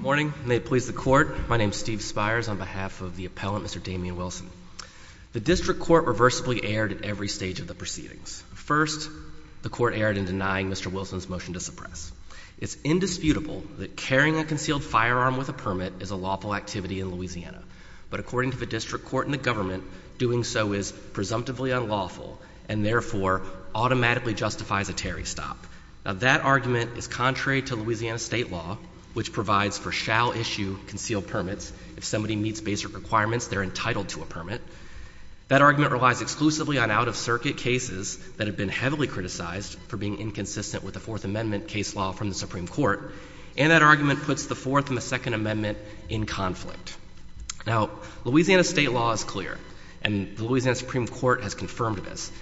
Morning, and may it please the Court, my name is Steve Spires, on behalf of the Appellant, Mr. Damien Wilson. The District Court reversibly erred at every stage of the proceedings. First, the Court erred in denying Mr. Wilson's motion to suppress. It's indisputable that carrying a concealed firearm with a permit is a lawful activity in Louisiana, but according to the District Court and the government, doing so is presumptively unlawful and therefore automatically justifies a tarry stop. That argument is contrary to Louisiana state law, which provides for shall-issue concealed permits. If somebody meets basic requirements, they're entitled to a permit. That argument relies exclusively on out-of-circuit cases that have been heavily criticized for being inconsistent with the Fourth Amendment case law from the Supreme Court, and that argument puts the Fourth and the Second Amendment in conflict. Now, Louisiana state law is clear, and the Louisiana Supreme Court has confirmed this.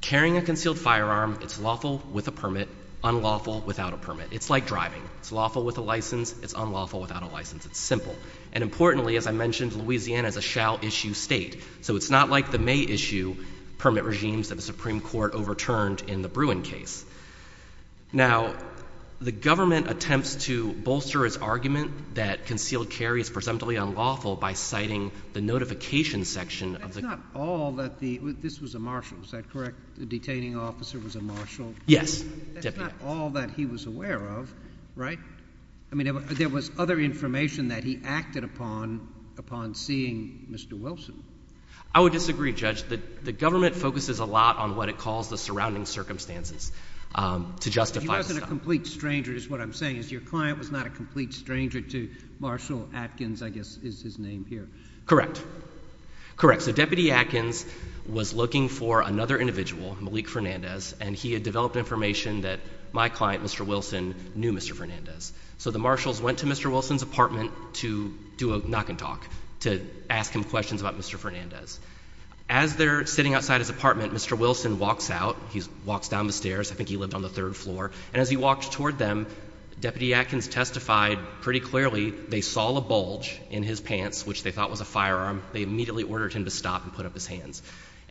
Carrying a concealed firearm, it's lawful with a permit, unlawful without a permit. It's like driving. It's lawful with a license, it's unlawful without a license. It's simple. And importantly, as I mentioned, Louisiana is a shall-issue state, so it's not like the issue permit regimes that the Supreme Court overturned in the Bruin case. Now, the government attempts to bolster its argument that concealed carry is presumptively unlawful by citing the notification section of the— But that's not all that the—this was a marshal, is that correct? The detaining officer was a marshal? Yes. That's not all that he was aware of, right? I mean, there was other information that he acted upon upon seeing Mr. Wilson. I would disagree, Judge. The government focuses a lot on what it calls the surrounding circumstances to justify— He wasn't a complete stranger, is what I'm saying, is your client was not a complete stranger to Marshal Atkins, I guess is his name here. Correct. Correct. So Deputy Atkins was looking for another individual, Malik Fernandez, and he had developed information that my client, Mr. Wilson, knew Mr. Fernandez. So the marshals went to Mr. Wilson's apartment to do a knock and talk, to ask him questions about Mr. Fernandez. As they're sitting outside his apartment, Mr. Wilson walks out. He walks down the stairs. I think he lived on the third floor. And as he walked toward them, Deputy Atkins testified pretty clearly they saw the bulge in his pants, which they thought was a firearm. They immediately ordered him to stop and put up his hands.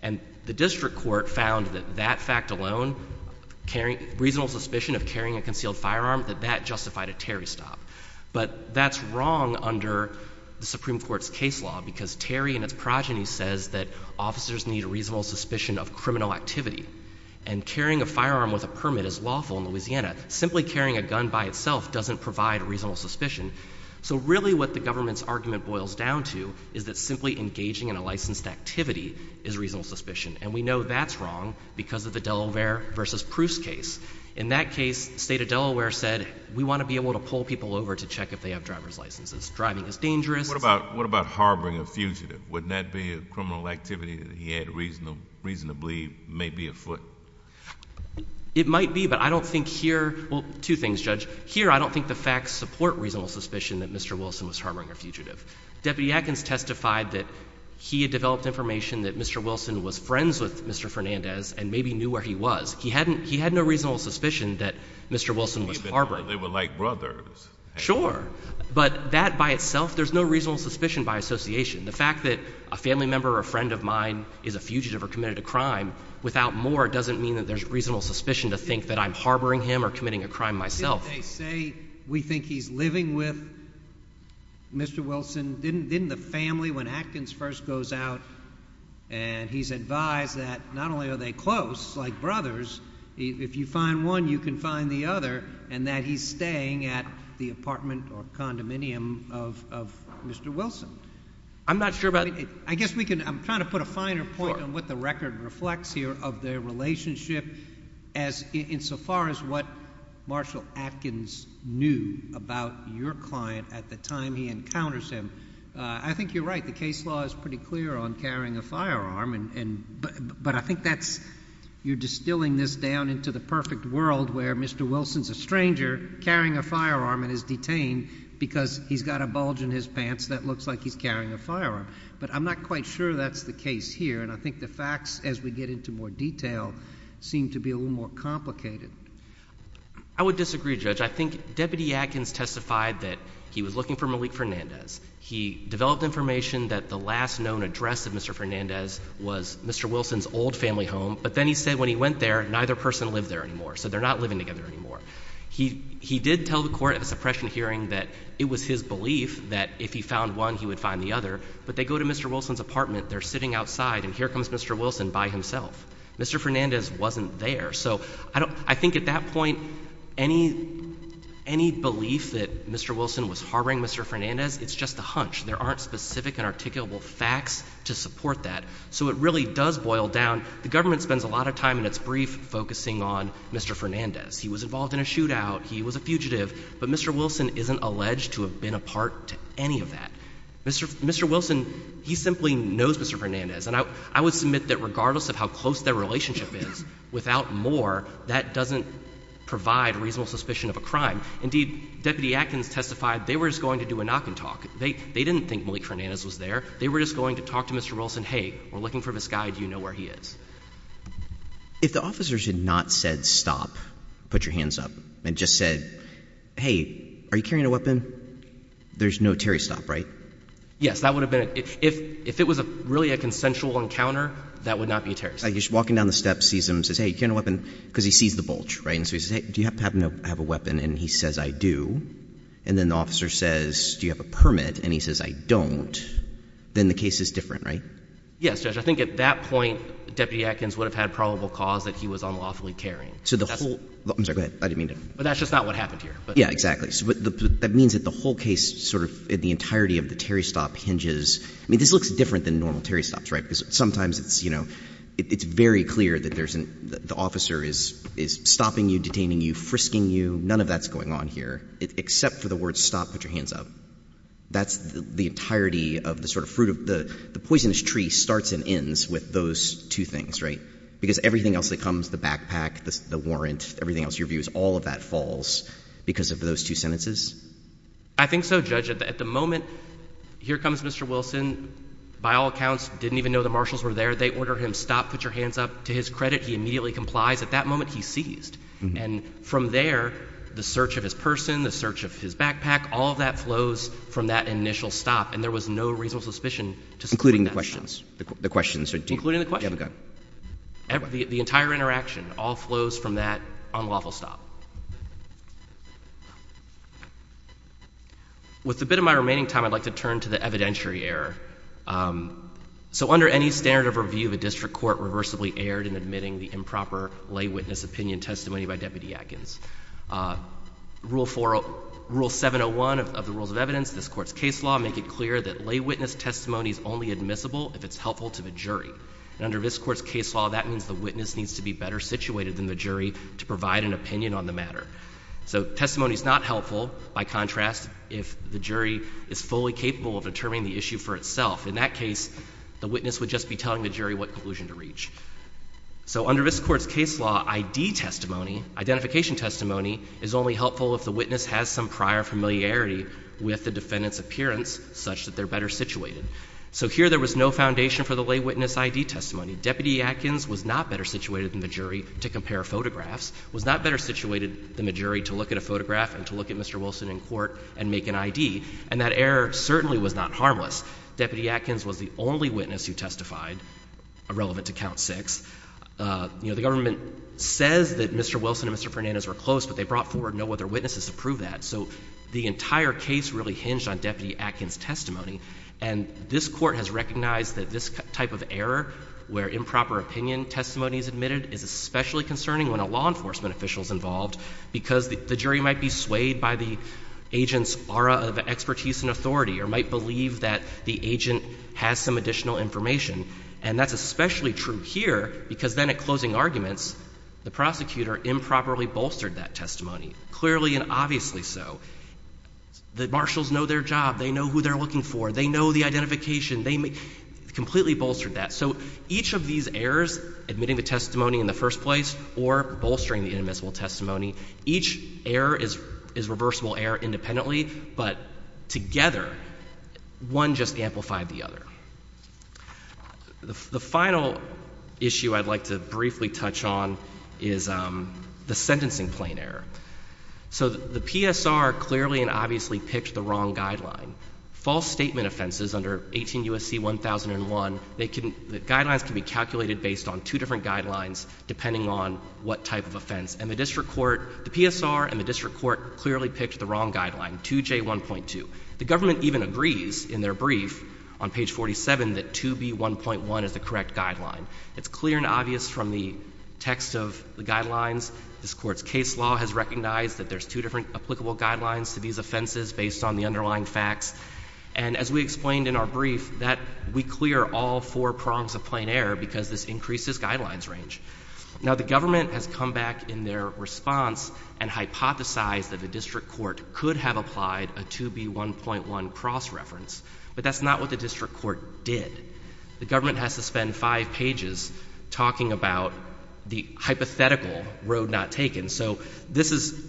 And the district court found that that fact alone, reasonable suspicion of carrying a concealed firearm, that that justified a Terry stop. But that's wrong under the Supreme Court's case law, because Terry and its progeny says that officers need a reasonable suspicion of criminal activity. And carrying a firearm with a permit is lawful in Louisiana. Simply carrying a gun by itself doesn't provide a reasonable suspicion. So really what the government's argument boils down to is that simply engaging in a licensed activity is reasonable suspicion. And we know that's wrong because of the Delaware v. Proust case. In that case, the state of Delaware said, we want to be able to pull people over to check if they have driver's licenses. Driving is dangerous. What about harboring a fugitive? Wouldn't that be a criminal activity that he had reasonably, maybe, afoot? It might be, but I don't think here—well, two things, Judge. Here I don't think the facts support reasonable suspicion that Mr. Wilson was harboring a Deputy Atkins testified that he had developed information that Mr. Wilson was friends with Mr. Fernandez and maybe knew where he was. He had no reasonable suspicion that Mr. Wilson was harboring him. Even though they were like brothers. Sure. But that by itself, there's no reasonable suspicion by association. The fact that a family member or a friend of mine is a fugitive or committed a crime without more doesn't mean that there's reasonable suspicion to think that I'm harboring him or committing a crime myself. Didn't they say, we think he's living with Mr. Wilson? Didn't the family, when Atkins first goes out and he's advised that not only are they close, like brothers, if you find one, you can find the other, and that he's staying at the apartment or condominium of Mr. Wilson? I'm not sure about— I guess we can—I'm trying to put a finer point on what the record reflects here of their relationship insofar as what Marshall Atkins knew about your client at the time he encounters him. I think you're right. The case law is pretty clear on carrying a firearm, but I think you're distilling this down into the perfect world where Mr. Wilson's a stranger carrying a firearm and is detained because he's got a bulge in his pants that looks like he's carrying a firearm. But I'm not quite sure that's the case here, and I think the facts, as we get into more detail, seem to be a little more complicated. I would disagree, Judge. I think Deputy Atkins testified that he was looking for Malik Fernandez. He developed information that the last known address of Mr. Fernandez was Mr. Wilson's old family home, but then he said when he went there, neither person lived there anymore, so they're not living together anymore. He did tell the court at the suppression hearing that it was his belief that if he found one, he would find the other, but they go to Mr. Wilson's apartment, they're sitting outside, and here comes Mr. Wilson by himself. Mr. Fernandez wasn't there. So I think at that point, any belief that Mr. Wilson was harboring Mr. Fernandez, it's just a hunch. There aren't specific and articulable facts to support that. So it really does boil down, the government spends a lot of time in its brief focusing on Mr. Fernandez. He was involved in a shootout, he was a fugitive, but Mr. Wilson isn't alleged to have been a part to any of that. Mr. Wilson, he simply knows Mr. Fernandez, and I would submit that regardless of how close their relationship is, without more, that doesn't provide reasonable suspicion of a crime. Indeed, Deputy Atkins testified, they were just going to do a knock and talk. They didn't think Malik Fernandez was there, they were just going to talk to Mr. Wilson, hey, we're looking for this guy, do you know where he is? If the officer should not said stop, put your hands up, and just said, hey, are you carrying a weapon, there's no Terry stop, right? Yes, that would have been, if it was really a consensual encounter, that would not be the case. He's walking down the steps, sees him, says, hey, do you have a weapon? Because he sees the bulge, right? And so he says, hey, do you happen to have a weapon? And he says, I do. And then the officer says, do you have a permit? And he says, I don't. Then the case is different, right? Yes, Judge. I think at that point, Deputy Atkins would have had probable cause that he was unlawfully carrying. I'm sorry, go ahead. I didn't mean to. But that's just not what happened here. Yeah, exactly. So that means that the whole case, sort of in the entirety of the Terry stop hinges, I mean, this looks different than normal Terry stops, right? Because sometimes it's very clear that the officer is stopping you, detaining you, frisking you. None of that's going on here, except for the words stop, put your hands up. That's the entirety of the sort of fruit of the poisonous tree starts and ends with those two things, right? Because everything else that comes, the backpack, the warrant, everything else, your views, all of that falls because of those two sentences? I think so, Judge. At the moment, here comes Mr. Wilson, by all accounts, didn't even know the marshals were there. They ordered him, stop, put your hands up. To his credit, he immediately complies. At that moment, he's seized. And from there, the search of his person, the search of his backpack, all of that flows from that initial stop. And there was no reasonable suspicion to support that. Including the questions. The questions. Including the questions. You have a go. The entire interaction all flows from that unlawful stop. With the bit of my remaining time, I'd like to turn to the evidentiary error. So under any standard of review, the district court reversibly erred in admitting the improper lay witness opinion testimony by Deputy Atkins. Rule 701 of the Rules of Evidence, this court's case law, make it clear that lay witness testimony is only admissible if it's helpful to the jury. Under this court's case law, that means the witness needs to be better situated than the jury to provide an opinion on the matter. So testimony is not helpful, by contrast, if the jury is fully capable of determining the issue for itself. In that case, the witness would just be telling the jury what conclusion to reach. So under this court's case law, ID testimony, identification testimony, is only helpful if the witness has some prior familiarity with the defendant's appearance such that they're better situated. So here there was no foundation for the lay witness ID testimony. Deputy Atkins was not better situated than the jury to compare photographs, was not better situated than the jury to look at a photograph and to look at Mr. Wilson in court and make an ID. And that error certainly was not harmless. Deputy Atkins was the only witness who testified irrelevant to count six. You know, the government says that Mr. Wilson and Mr. Fernandez were close, but they brought forward no other witnesses to prove that. So the entire case really hinged on Deputy Atkins' testimony. And this court has recognized that this type of error, where improper opinion testimony is admitted, is especially concerning when a law enforcement official is involved because the jury might be swayed by the agent's aura of expertise and authority or might believe that the agent has some additional information. And that's especially true here because then at closing arguments, the prosecutor improperly bolstered that testimony, clearly and obviously so. The marshals know their job. They know who they're looking for. They know the identification. They completely bolstered that. So each of these errors, admitting the testimony in the first place or bolstering the inadmissible testimony, each error is reversible error independently, but together, one just amplified the other. The final issue I'd like to briefly touch on is the sentencing plane error. So the PSR clearly and obviously picked the wrong guideline. False statement offenses under 18 U.S.C. 1001, they can, the guidelines can be calculated based on two different guidelines depending on what type of offense. And the district court, the PSR and the district court clearly picked the wrong guideline 2J1.2. The government even agrees in their brief on page 47 that 2B1.1 is the correct guideline. It's clear and obvious from the text of the guidelines. This court's case law has recognized that there's two different applicable guidelines to these offenses based on the underlying facts. And as we explained in our brief that we clear all four prongs of plane error because this increases guidelines range. Now the government has come back in their response and hypothesized that the district court could have applied a 2B1.1 cross-reference, but that's not what the district court did. The government has to spend five pages talking about the hypothetical road not taken. So this is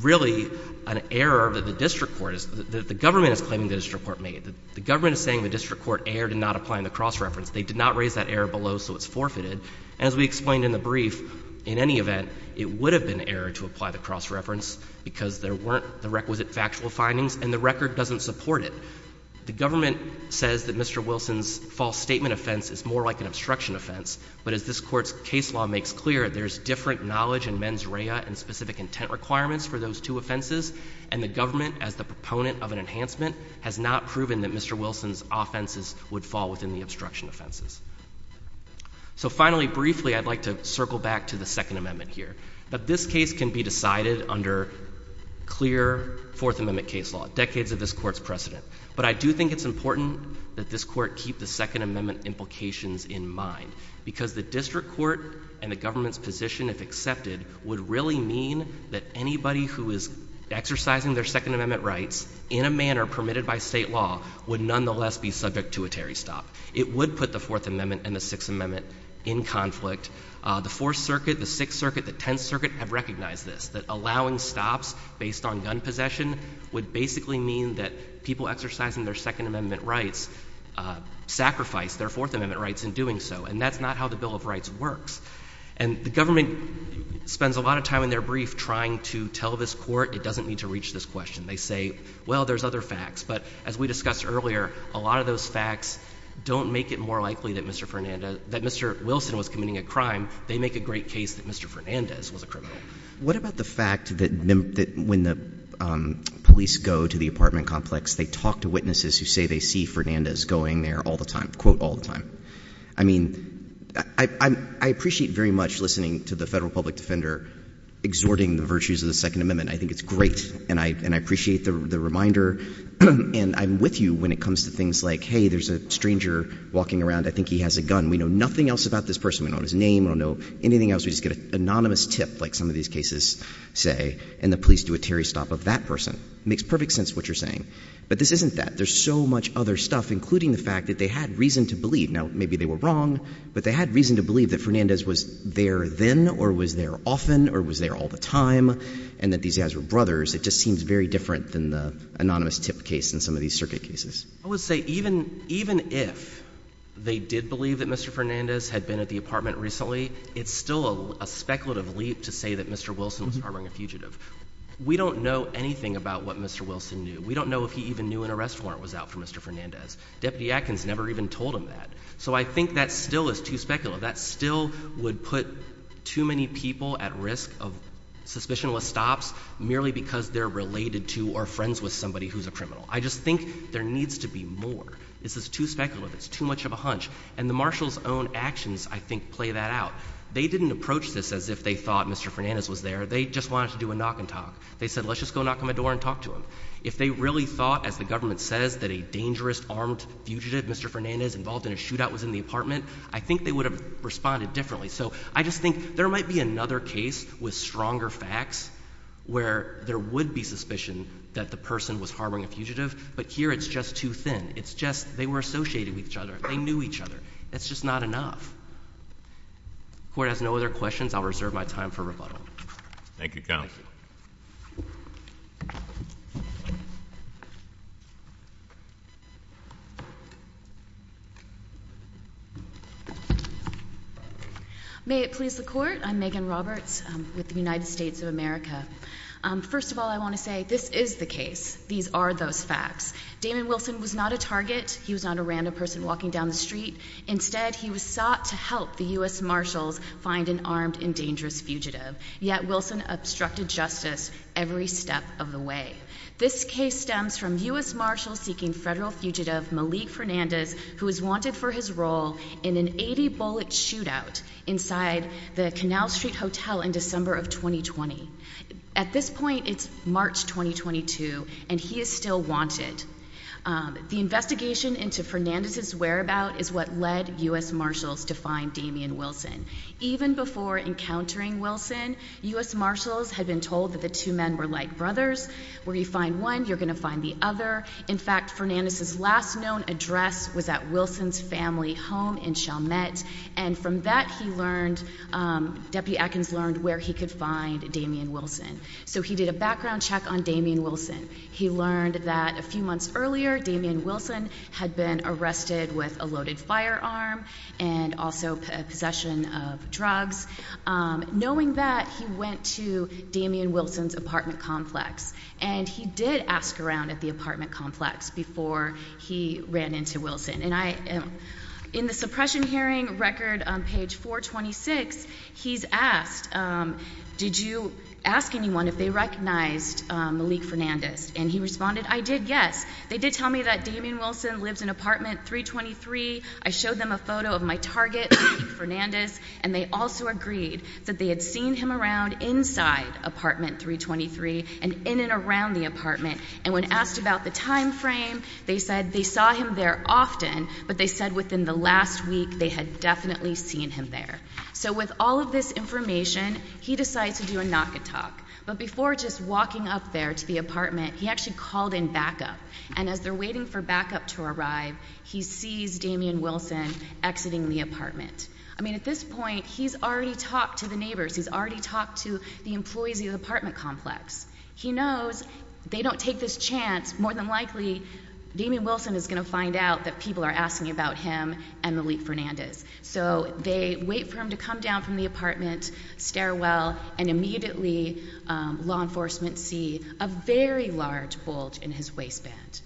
really an error that the district court, the government is claiming the district court made. The government is saying the district court erred in not applying the cross-reference. They did not raise that error below so it's forfeited. As we explained in the brief, in any event, it would have been an error to apply the cross-reference because there weren't the requisite factual findings and the record doesn't support it. The government says that Mr. Wilson's false statement offense is more like an obstruction offense. But as this court's case law makes clear, there's different knowledge and mens rea and specific intent requirements for those two offenses. And the government, as the proponent of an enhancement, has not proven that Mr. Wilson's offenses would fall within the obstruction offenses. So finally, briefly, I'd like to circle back to the Second Amendment here. But this case can be decided under clear Fourth Amendment case law, decades of this court's precedent. But I do think it's important that this court keep the Second Amendment implications in mind because the district court and the government's position, if accepted, would really mean that anybody who is exercising their Second Amendment rights in a manner permitted by state law would nonetheless be subject to a Terry stop. It would put the Fourth Amendment and the Sixth Amendment in conflict. The Fourth Circuit, the Sixth Circuit, the Tenth Circuit have recognized this, that allowing stops based on gun possession would basically mean that people exercising their Second Amendment rights sacrifice their Fourth Amendment rights in doing so. And that's not how the Bill of Rights works. And the government spends a lot of time in their brief trying to tell this court it doesn't need to reach this question. They say, well, there's other facts. But as we discussed earlier, a lot of those facts don't make it more likely that Mr. Wilson was committing a crime. They make a great case that Mr. Fernandez was a criminal. What about the fact that when the police go to the apartment complex, they talk to witnesses who say they see Fernandez going there all the time, quote, all the time? I mean, I appreciate very much listening to the federal public defender exhorting the virtues of the Second Amendment. I think it's great. And I appreciate the reminder. And I'm with you when it comes to things like, hey, there's a stranger walking around. I think he has a gun. We know nothing else about this person. We don't know his name. We don't know anything else. We just get an anonymous tip, like some of these cases say, and the police do a Terry stop of that person. It makes perfect sense what you're saying. But this isn't that. There's so much other stuff, including the fact that they had reason to believe. Now, maybe they were wrong, but they had reason to believe that Fernandez was there then or was there often or was there all the time and that these guys were brothers. It just seems very different than the anonymous tip case in some of these circuit cases. I would say even if they did believe that Mr. Fernandez had been at the apartment recently, it's still a speculative leap to say that Mr. Wilson was harboring a fugitive. We don't know anything about what Mr. Wilson knew. We don't know if he even knew an arrest warrant was out for Mr. Fernandez. Deputy Atkins never even told him that. So I think that still is too speculative. That still would put too many people at risk of suspicionless stops merely because they're related to or friends with somebody who's a criminal. I just think there needs to be more. This is too speculative. It's too much of a hunch. And the marshal's own actions, I think, play that out. They didn't approach this as if they thought Mr. Fernandez was there. They just wanted to do a knock and talk. They said, let's just go knock on the door and talk to him. If they really thought, as the government says, that a dangerous armed fugitive, Mr. Fernandez, involved in a shootout was in the apartment, I think they would have responded differently. So I just think there might be another case with stronger facts where there would be suspicion that the person was harboring a fugitive. But here it's just too thin. It's just they were associated with each other. They knew each other. That's just not enough. If the Court has no other questions, I'll reserve my time for rebuttal. Thank you, counsel. May it please the Court. I'm Megan Roberts with the United States of America. First of all, I want to say, this is the case. These are those facts. Damon Wilson was not a target. He was not a random person walking down the street. Instead, he was sought to help the U.S. Marshals find an armed and dangerous fugitive. Yet Wilson obstructed justice every step of the way. This case stems from U.S. Marshals seeking federal fugitive Malik Fernandez, who is wanted for his role in an 80-bullet shootout inside the Canal Street Hotel in December of 2020. At this point, it's March 2022, and he is still wanted. The investigation into Fernandez's whereabout is what led U.S. Marshals to find Damon Wilson. Even before encountering Wilson, U.S. Marshals had been told that the two men were like brothers. Where you find one, you're going to find the other. In fact, Fernandez's last known address was at Wilson's family home in Chalmette. And from that, he learned, Deputy Atkins learned where he could find Damian Wilson. So he did a background check on Damian Wilson. He learned that a few months earlier, Damian Wilson had been arrested with a loaded firearm and also possession of drugs. Knowing that, he went to Damian Wilson's apartment complex. And he did ask around at the apartment complex before he ran into Wilson. And in the suppression hearing record on page 426, he's asked, did you ask anyone if they recognized Malik Fernandez? And he responded, I did, yes. They did tell me that Damian Wilson lives in apartment 323. I showed them a photo of my target, Malik Fernandez. And they also agreed that they had seen him around inside apartment 323 and in and around the apartment, and when asked about the time frame, they said they saw him there often. But they said within the last week, they had definitely seen him there. So with all of this information, he decides to do a knock and talk. But before just walking up there to the apartment, he actually called in backup. And as they're waiting for backup to arrive, he sees Damian Wilson exiting the apartment. I mean, at this point, he's already talked to the neighbors. He's already talked to the employees of the apartment complex. He knows they don't take this chance. More than likely, Damian Wilson is going to find out that people are asking about him and Malik Fernandez. So they wait for him to come down from the apartment stairwell, and immediately law enforcement see a very large bulge in his waistband.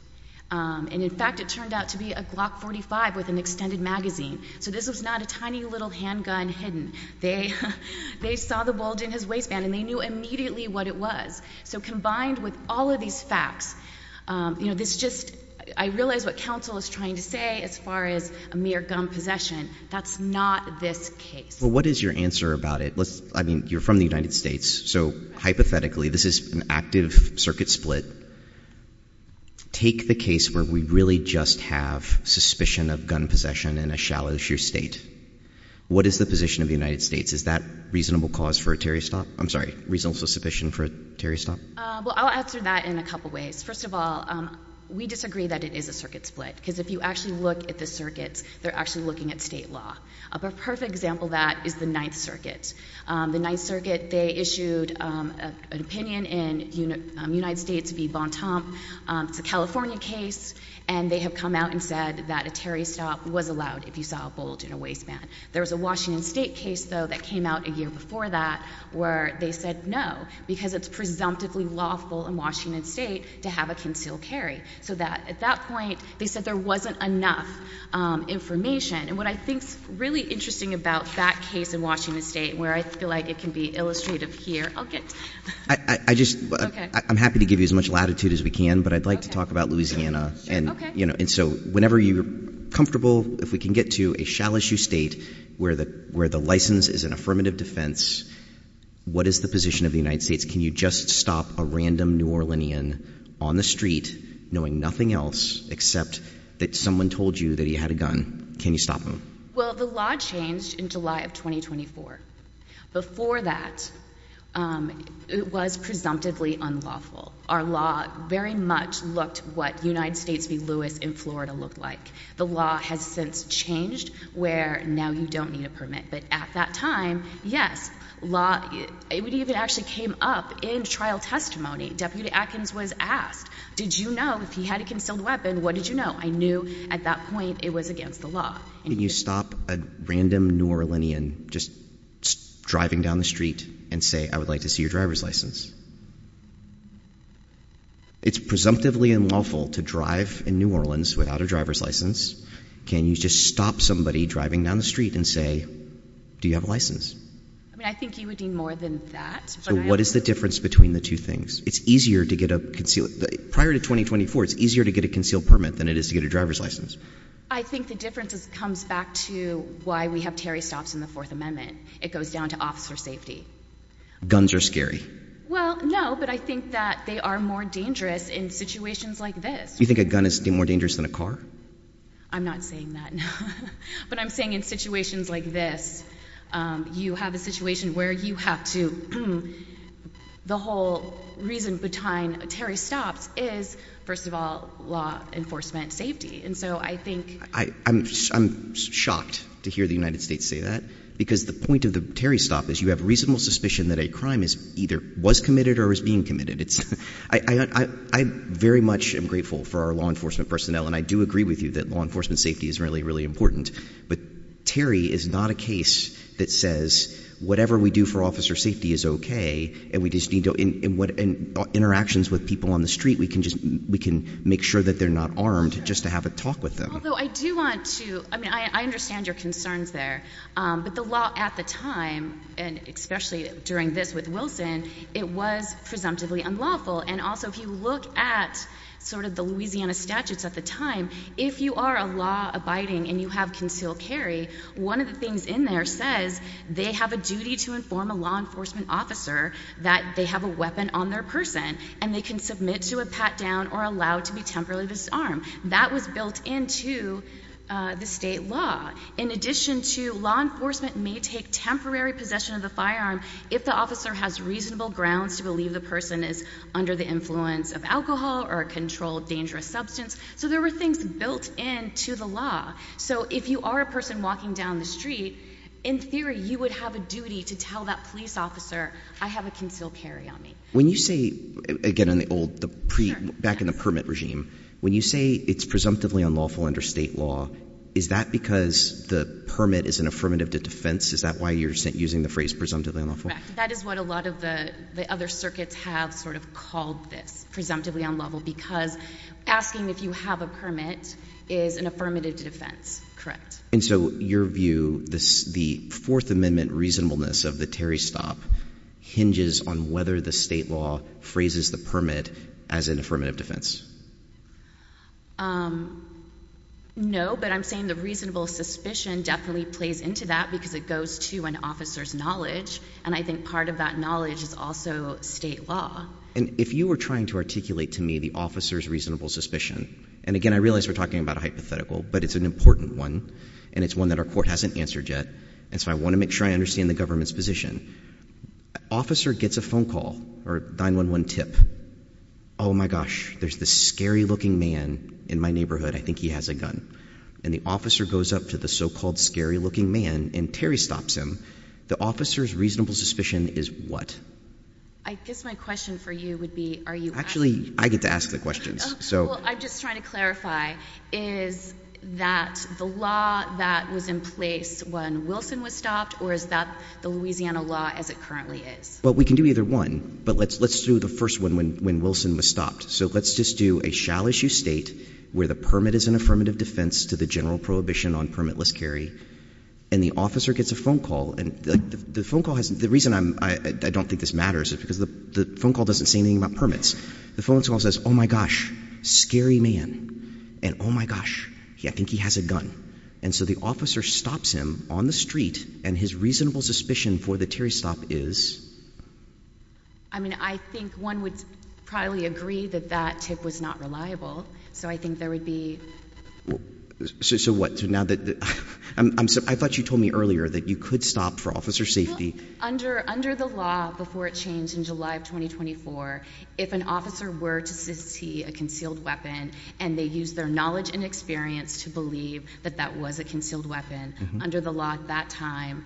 And in fact, it turned out to be a Glock 45 with an extended magazine. So this was not a tiny little handgun hidden. They saw the bulge in his waistband, and they knew immediately what it was. So combined with all of these facts, I realize what counsel is trying to say as far as a mere gun possession. That's not this case. Well, what is your answer about it? I mean, you're from the United States, so hypothetically, this is an active circuit split. Take the case where we really just have suspicion of gun possession in a shallow, sheer state. What is the position of the United States? Is that reasonable cause for a Terry stop? I'm sorry, reasonable suspicion for a Terry stop? Well, I'll answer that in a couple ways. First of all, we disagree that it is a circuit split, because if you actually look at the circuits, they're actually looking at state law. A perfect example of that is the Ninth Circuit. The Ninth Circuit, they issued an opinion in United States v. Vaughn Tomp, it's a California case, and they have come out and said that a Terry stop was allowed if you saw a bulge in a waistband. There was a Washington State case, though, that came out a year before that where they said no, because it's presumptively lawful in Washington State to have a concealed carry. So that, at that point, they said there wasn't enough information. And what I think's really interesting about that case in Washington State, where I feel like it can be illustrative here, I'll get to it. I just, I'm happy to give you as much latitude as we can, but I'd like to talk about Louisiana. And so, whenever you're comfortable, if we can get to a shallow issue state where the license is an affirmative defense. What is the position of the United States? Can you just stop a random New Orleanian on the street, knowing nothing else except that someone told you that he had a gun, can you stop him? Well, the law changed in July of 2024. Before that, it was presumptively unlawful. Our law very much looked what United States v. Lewis in Florida looked like. The law has since changed where now you don't need a permit. But at that time, yes, law, it even actually came up in trial testimony. Deputy Atkins was asked, did you know if he had a concealed weapon, what did you know? I knew at that point it was against the law. Can you stop a random New Orleanian just driving down the street and say, I would like to see your driver's license? It's presumptively unlawful to drive in New Orleans without a driver's license. Can you just stop somebody driving down the street and say, do you have a license? I mean, I think you would need more than that. So what is the difference between the two things? It's easier to get a, prior to 2024, it's easier to get a concealed permit than it is to get a driver's license. I think the difference comes back to why we have Terry stops in the Fourth Amendment. It goes down to officer safety. Guns are scary. Well, no, but I think that they are more dangerous in situations like this. You think a gun is more dangerous than a car? I'm not saying that, no. But I'm saying in situations like this, you have a situation where you have to, the whole reason behind Terry stops is, first of all, law enforcement safety. I'm shocked to hear the United States say that. Because the point of the Terry stop is you have reasonable suspicion that a crime either was committed or is being committed. I very much am grateful for our law enforcement personnel, and I do agree with you that law enforcement safety is really, really important. But Terry is not a case that says whatever we do for officer safety is okay, and interactions with people on the street, we can make sure that they're not armed just to have a talk with them. Although I do want to, I mean, I understand your concerns there. But the law at the time, and especially during this with Wilson, it was presumptively unlawful. And also, if you look at sort of the Louisiana statutes at the time, if you are a law abiding and you have concealed carry, one of the things in there says they have a duty to inform a law enforcement officer that they have a weapon on their person and they can submit to a pat down or allowed to be temporarily disarmed. That was built into the state law. In addition to law enforcement may take temporary possession of the firearm if the officer has reasonable grounds to believe the person is under the influence of alcohol or a controlled dangerous substance, so there were things built into the law. So if you are a person walking down the street, in theory you would have a duty to tell that police officer, I have a concealed carry on me. When you say, again in the old, back in the permit regime. When you say it's presumptively unlawful under state law, is that because the permit is an affirmative to defense? Is that why you're using the phrase presumptively unlawful? Correct. That is what a lot of the other circuits have sort of called this, presumptively unlawful, because asking if you have a permit is an affirmative to defense. And so your view, the fourth amendment reasonableness of the Terry Stop hinges on whether the state law phrases the permit as an affirmative defense. No, but I'm saying the reasonable suspicion definitely plays into that because it goes to an officer's knowledge. And I think part of that knowledge is also state law. And if you were trying to articulate to me the officer's reasonable suspicion, and again, I realize we're talking about a hypothetical, but it's an important one. And it's one that our court hasn't answered yet, and so I want to make sure I understand the government's position. Officer gets a phone call, or a 911 tip, my gosh, there's this scary looking man in my neighborhood, I think he has a gun. And the officer goes up to the so-called scary looking man, and Terry stops him. The officer's reasonable suspicion is what? I guess my question for you would be, are you asking- Actually, I get to ask the questions, so. Well, I'm just trying to clarify, is that the law that was in place when Wilson was stopped, or is that the Louisiana law as it currently is? Well, we can do either one, but let's do the first one when Wilson was stopped. So let's just do a shall issue state where the permit is an affirmative defense to the general prohibition on permitless carry. And the officer gets a phone call, and the reason I don't think this matters is because the phone call doesn't say anything about permits. The phone call says, my gosh, scary man, and my gosh, I think he has a gun. And so the officer stops him on the street, and his reasonable suspicion for the Terry stop is? I mean, I think one would probably agree that that tip was not reliable, so I think there would be- So what, so now that, I thought you told me earlier that you could stop for officer safety. Under the law, before it changed in July of 2024, if an officer were to see a concealed weapon, and they used their knowledge and experience to believe that that was a concealed weapon, under the law at that time,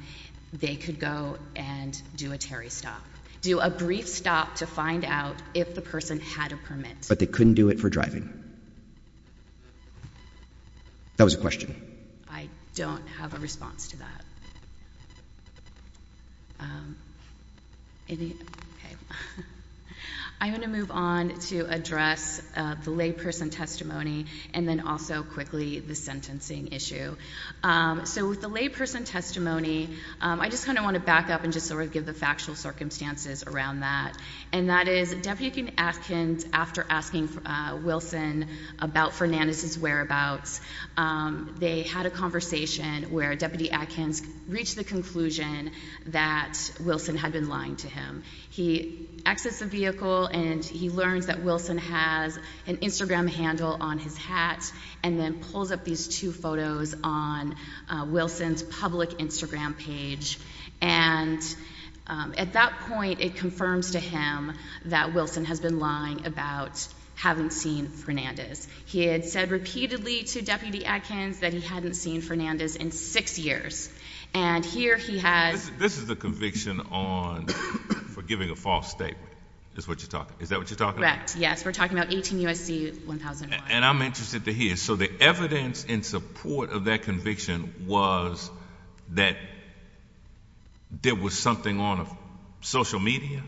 they could go and do a Terry stop. Do a brief stop to find out if the person had a permit. But they couldn't do it for driving? That was a question. I don't have a response to that. Okay, I'm going to move on to address the layperson testimony, and then also quickly the sentencing issue. So with the layperson testimony, I just kind of want to back up and just sort of give the factual circumstances around that. And that is, Deputy Atkins, after asking Wilson about Fernandez's whereabouts, they had a conversation where Deputy Atkins reached the conclusion that Wilson had been lying to him. He exits the vehicle, and he learns that Wilson has an Instagram handle on his hat, and then pulls up these two photos on Wilson's public Instagram page. And at that point, it confirms to him that Wilson has been lying about having seen Fernandez. He had said repeatedly to Deputy Atkins that he hadn't seen Fernandez in six years. And here he has- This is the conviction on for giving a false statement, is what you're talking, is that what you're talking about? Correct, yes. We're talking about 18 U.S.C. 1001. And I'm interested to hear. And so the evidence in support of that conviction was that there was something on social media?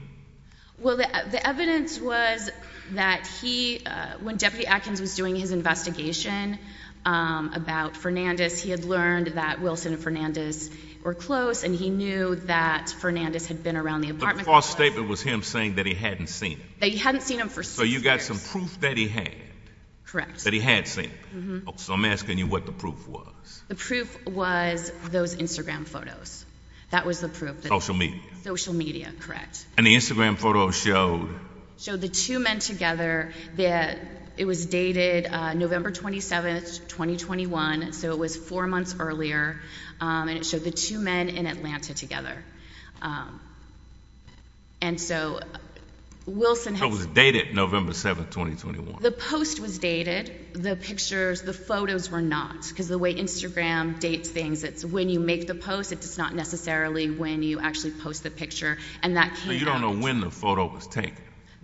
Well, the evidence was that he, when Deputy Atkins was doing his investigation about Fernandez, he had learned that Wilson and Fernandez were close, and he knew that Fernandez had been around the apartment complex. The false statement was him saying that he hadn't seen him. That he hadn't seen him for six years. So you got some proof that he had. Correct. That he had seen him. So I'm asking you what the proof was. The proof was those Instagram photos. That was the proof. Social media. Social media, correct. And the Instagram photo showed- Showed the two men together. It was dated November 27th, 2021, so it was four months earlier, and it showed the two men in Atlanta together. And so Wilson- It was dated November 7th, 2021. The post was dated. The pictures, the photos were not, because the way Instagram dates things, it's when you make the post. It's not necessarily when you actually post the picture. And that came out- So you don't know when the photo was taken?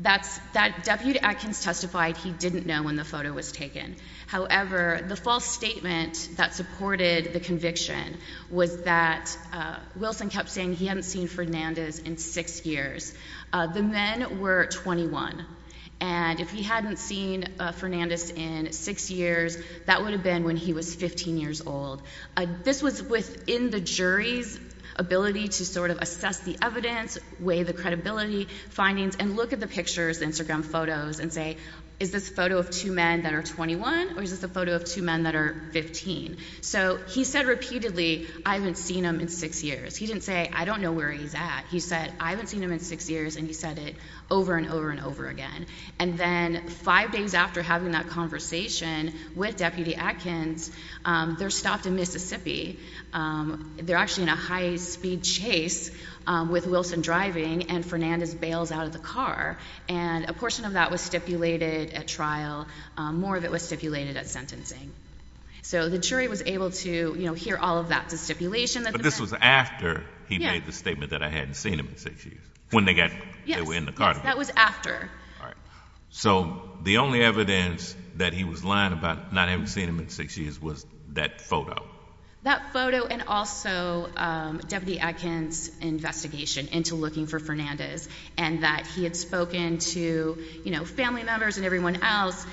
That's- Deputy Atkins testified he didn't know when the photo was taken. However, the false statement that supported the conviction was that Wilson kept saying he hadn't seen Fernandez in six years. The men were 21. And if he hadn't seen Fernandez in six years, that would have been when he was 15 years old. This was within the jury's ability to sort of assess the evidence, weigh the credibility findings, and look at the pictures, Instagram photos, and say, is this a photo of two men that are 21, or is this a photo of two men that are 15? So he said repeatedly, I haven't seen him in six years. He didn't say, I don't know where he's at. He said, I haven't seen him in six years. And he said it over and over and over again. And then five days after having that conversation with Deputy Atkins, they're stopped in Mississippi. They're actually in a high-speed chase with Wilson driving, and Fernandez bails out of the car. And a portion of that was stipulated at trial. More of it was stipulated at sentencing. So the jury was able to hear all of that, the stipulation that- This was after he made the statement that I hadn't seen him in six years, when they got, they were in the car. Yes, yes, that was after. So the only evidence that he was lying about not having seen him in six years was that photo. That photo, and also Deputy Atkins' investigation into looking for Fernandez. And that he had spoken to family members and everyone else.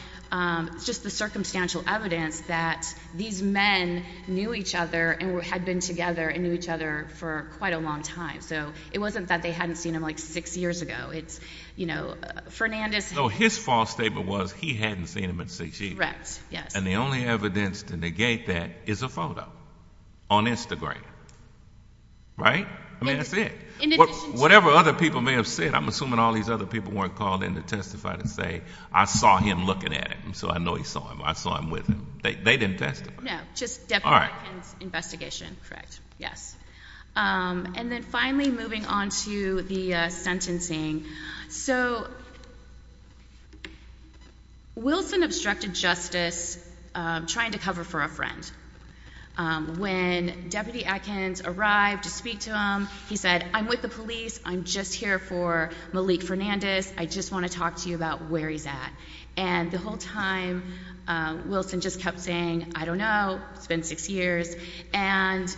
Just the circumstantial evidence that these men knew each other and had been together and knew each other for quite a long time. So it wasn't that they hadn't seen him like six years ago. It's, you know, Fernandez- So his false statement was he hadn't seen him in six years. Correct, yes. And the only evidence to negate that is a photo on Instagram, right? I mean, that's it. In addition to- Whatever other people may have said. I'm assuming all these other people weren't called in to testify to say, I saw him looking at him. So I know he saw him. I saw him with him. They didn't testify. No, just Deputy Atkins' investigation. Yes. And then finally, moving on to the sentencing. So, Wilson obstructed justice trying to cover for a friend. When Deputy Atkins arrived to speak to him, he said, I'm with the police. I'm just here for Malik Fernandez. I just want to talk to you about where he's at. And the whole time, Wilson just kept saying, I don't know, it's been six years. And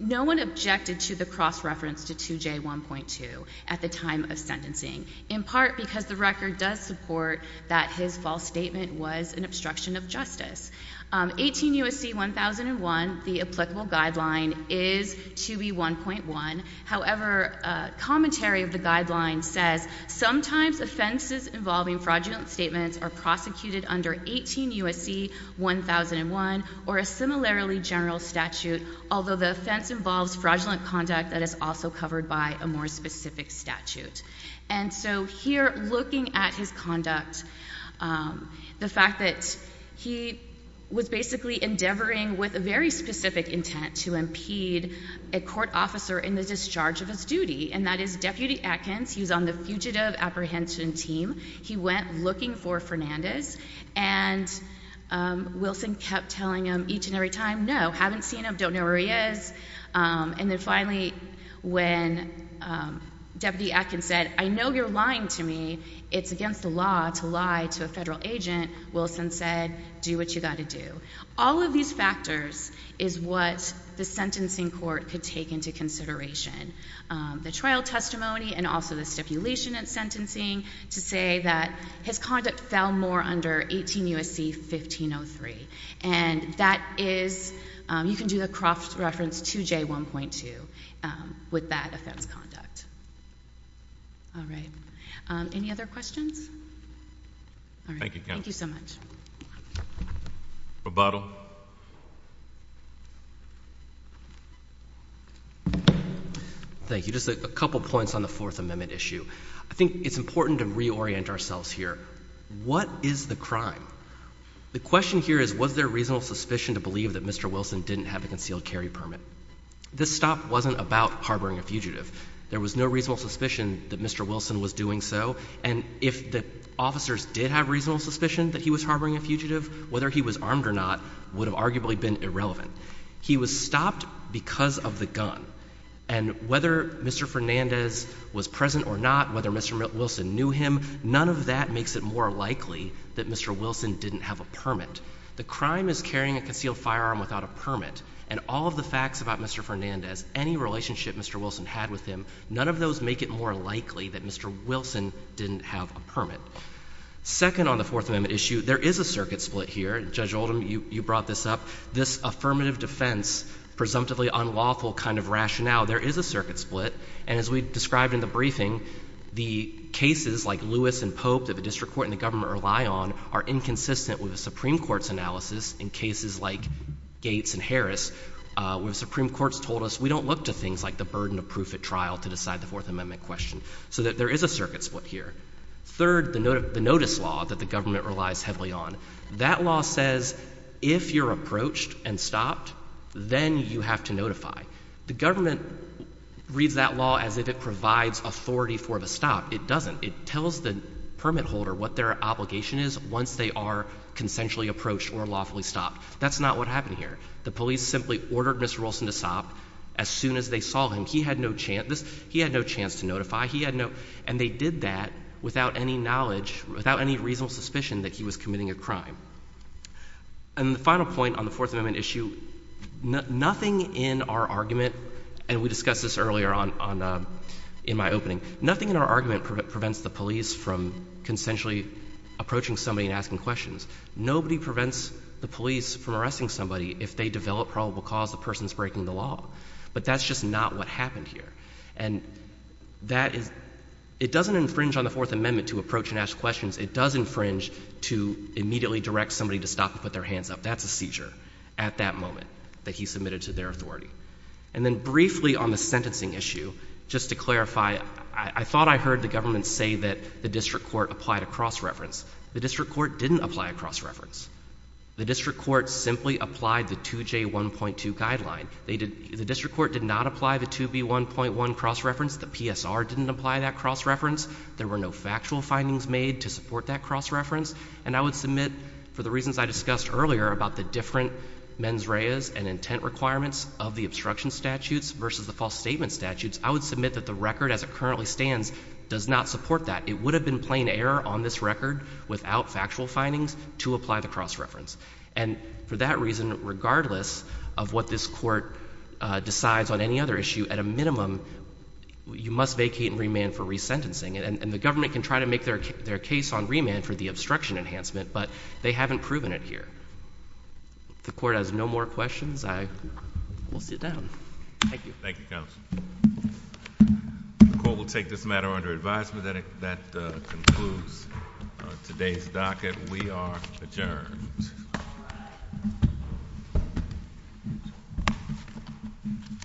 no one objected to the cross-reference to 2J1.2 at the time of sentencing, in part because the record does support that his false statement was an obstruction of justice. 18 U.S.C. 1001, the applicable guideline is 2B1.1. However, commentary of the guideline says, sometimes offenses involving fraudulent statements are prosecuted under 18 U.S.C. 1001 or a similarly general statute, although the offense involves fraudulent conduct that is also covered by a more specific statute. And so here, looking at his conduct, the fact that he was basically endeavoring with a very specific intent to impede a court officer in the discharge of his duty, and that is Deputy Atkins, he was on the fugitive apprehension team. He went looking for Fernandez, and Wilson kept telling him each and every time, no, haven't seen him, don't know where he is. And then finally, when Deputy Atkins said, I know you're lying to me, it's against the law to lie to a federal agent, Wilson said, do what you gotta do. All of these factors is what the sentencing court could take into consideration. The trial testimony and also the stipulation in sentencing to say that his conduct fell more under 18 U.S.C. 1503. And that is, you can do the Croft reference to J1.2 with that offense conduct. All right. Any other questions? All right. Thank you so much. Rebuttal. Thank you. Just a couple points on the Fourth Amendment issue. I think it's important to reorient ourselves here. What is the crime? The question here is, was there reasonable suspicion to believe that Mr. Wilson didn't have a concealed carry permit? This stop wasn't about harboring a fugitive. There was no reasonable suspicion that Mr. Wilson was doing so. And if the officers did have reasonable suspicion that he was harboring a fugitive, whether he was armed or not would have arguably been irrelevant. He was stopped because of the gun. And whether Mr. Fernandez was present or not, whether Mr. Wilson knew him, none of that makes it more likely that Mr. Wilson didn't have a permit. The crime is carrying a concealed firearm without a permit. And all of the facts about Mr. Fernandez, any relationship Mr. Wilson had with him, none of those make it more likely that Mr. Wilson didn't have a permit. Second on the Fourth Amendment issue, there is a circuit split here. Judge Oldham, you brought this up. This affirmative defense, presumptively unlawful kind of rationale, there is a circuit split. And as we described in the briefing, the cases like Lewis and Pope that the district court and the government rely on are inconsistent with the Supreme Court's analysis in cases like Gates and Harris, where the Supreme Court's told us we don't look to things like the burden of proof at trial to decide the Fourth Amendment question. So there is a circuit split here. Third, the notice law that the government relies heavily on. That law says if you're approached and stopped, then you have to notify. The government reads that law as if it provides authority for the stop. It doesn't. It tells the permit holder what their obligation is once they are consensually approached or lawfully stopped. That's not what happened here. The police simply ordered Mr. Wilson to stop as soon as they saw him. He had no chance to notify. He had no, and they did that without any knowledge, without any reasonable suspicion that he was committing a crime. And the final point on the Fourth Amendment issue, nothing in our argument, and we discussed this earlier on in my opening, nothing in our argument prevents the police from consensually approaching somebody and asking questions. Nobody prevents the police from arresting somebody if they develop probable cause the person's breaking the law. But that's just not what happened here. And that is, it doesn't infringe on the Fourth Amendment to approach and ask questions. It does infringe to immediately direct somebody to stop and put their hands up. That's a seizure at that moment that he submitted to their authority. And then briefly on the sentencing issue, just to clarify, I thought I heard the government say that the district court applied a cross-reference. The district court didn't apply a cross-reference. The district court simply applied the 2J1.2 guideline. The district court did not apply the 2B1.1 cross-reference. The PSR didn't apply that cross-reference. There were no factual findings made to support that cross-reference. And I would submit, for the reasons I discussed earlier about the different mens reas and intent requirements of the obstruction statutes versus the false statement statutes, I would submit that the record as it currently stands does not support that. It would have been plain error on this record without factual findings to apply the cross-reference. And for that reason, regardless of what this court decides on any other issue, at a minimum, you must vacate and remand for resentencing. And the government can try to make their case on remand for the obstruction enhancement, but they haven't proven it here. The court has no more questions. I will sit down. Thank you. Thank you, Counsel. The court will take this matter under advisement. That concludes today's docket. We are adjourned.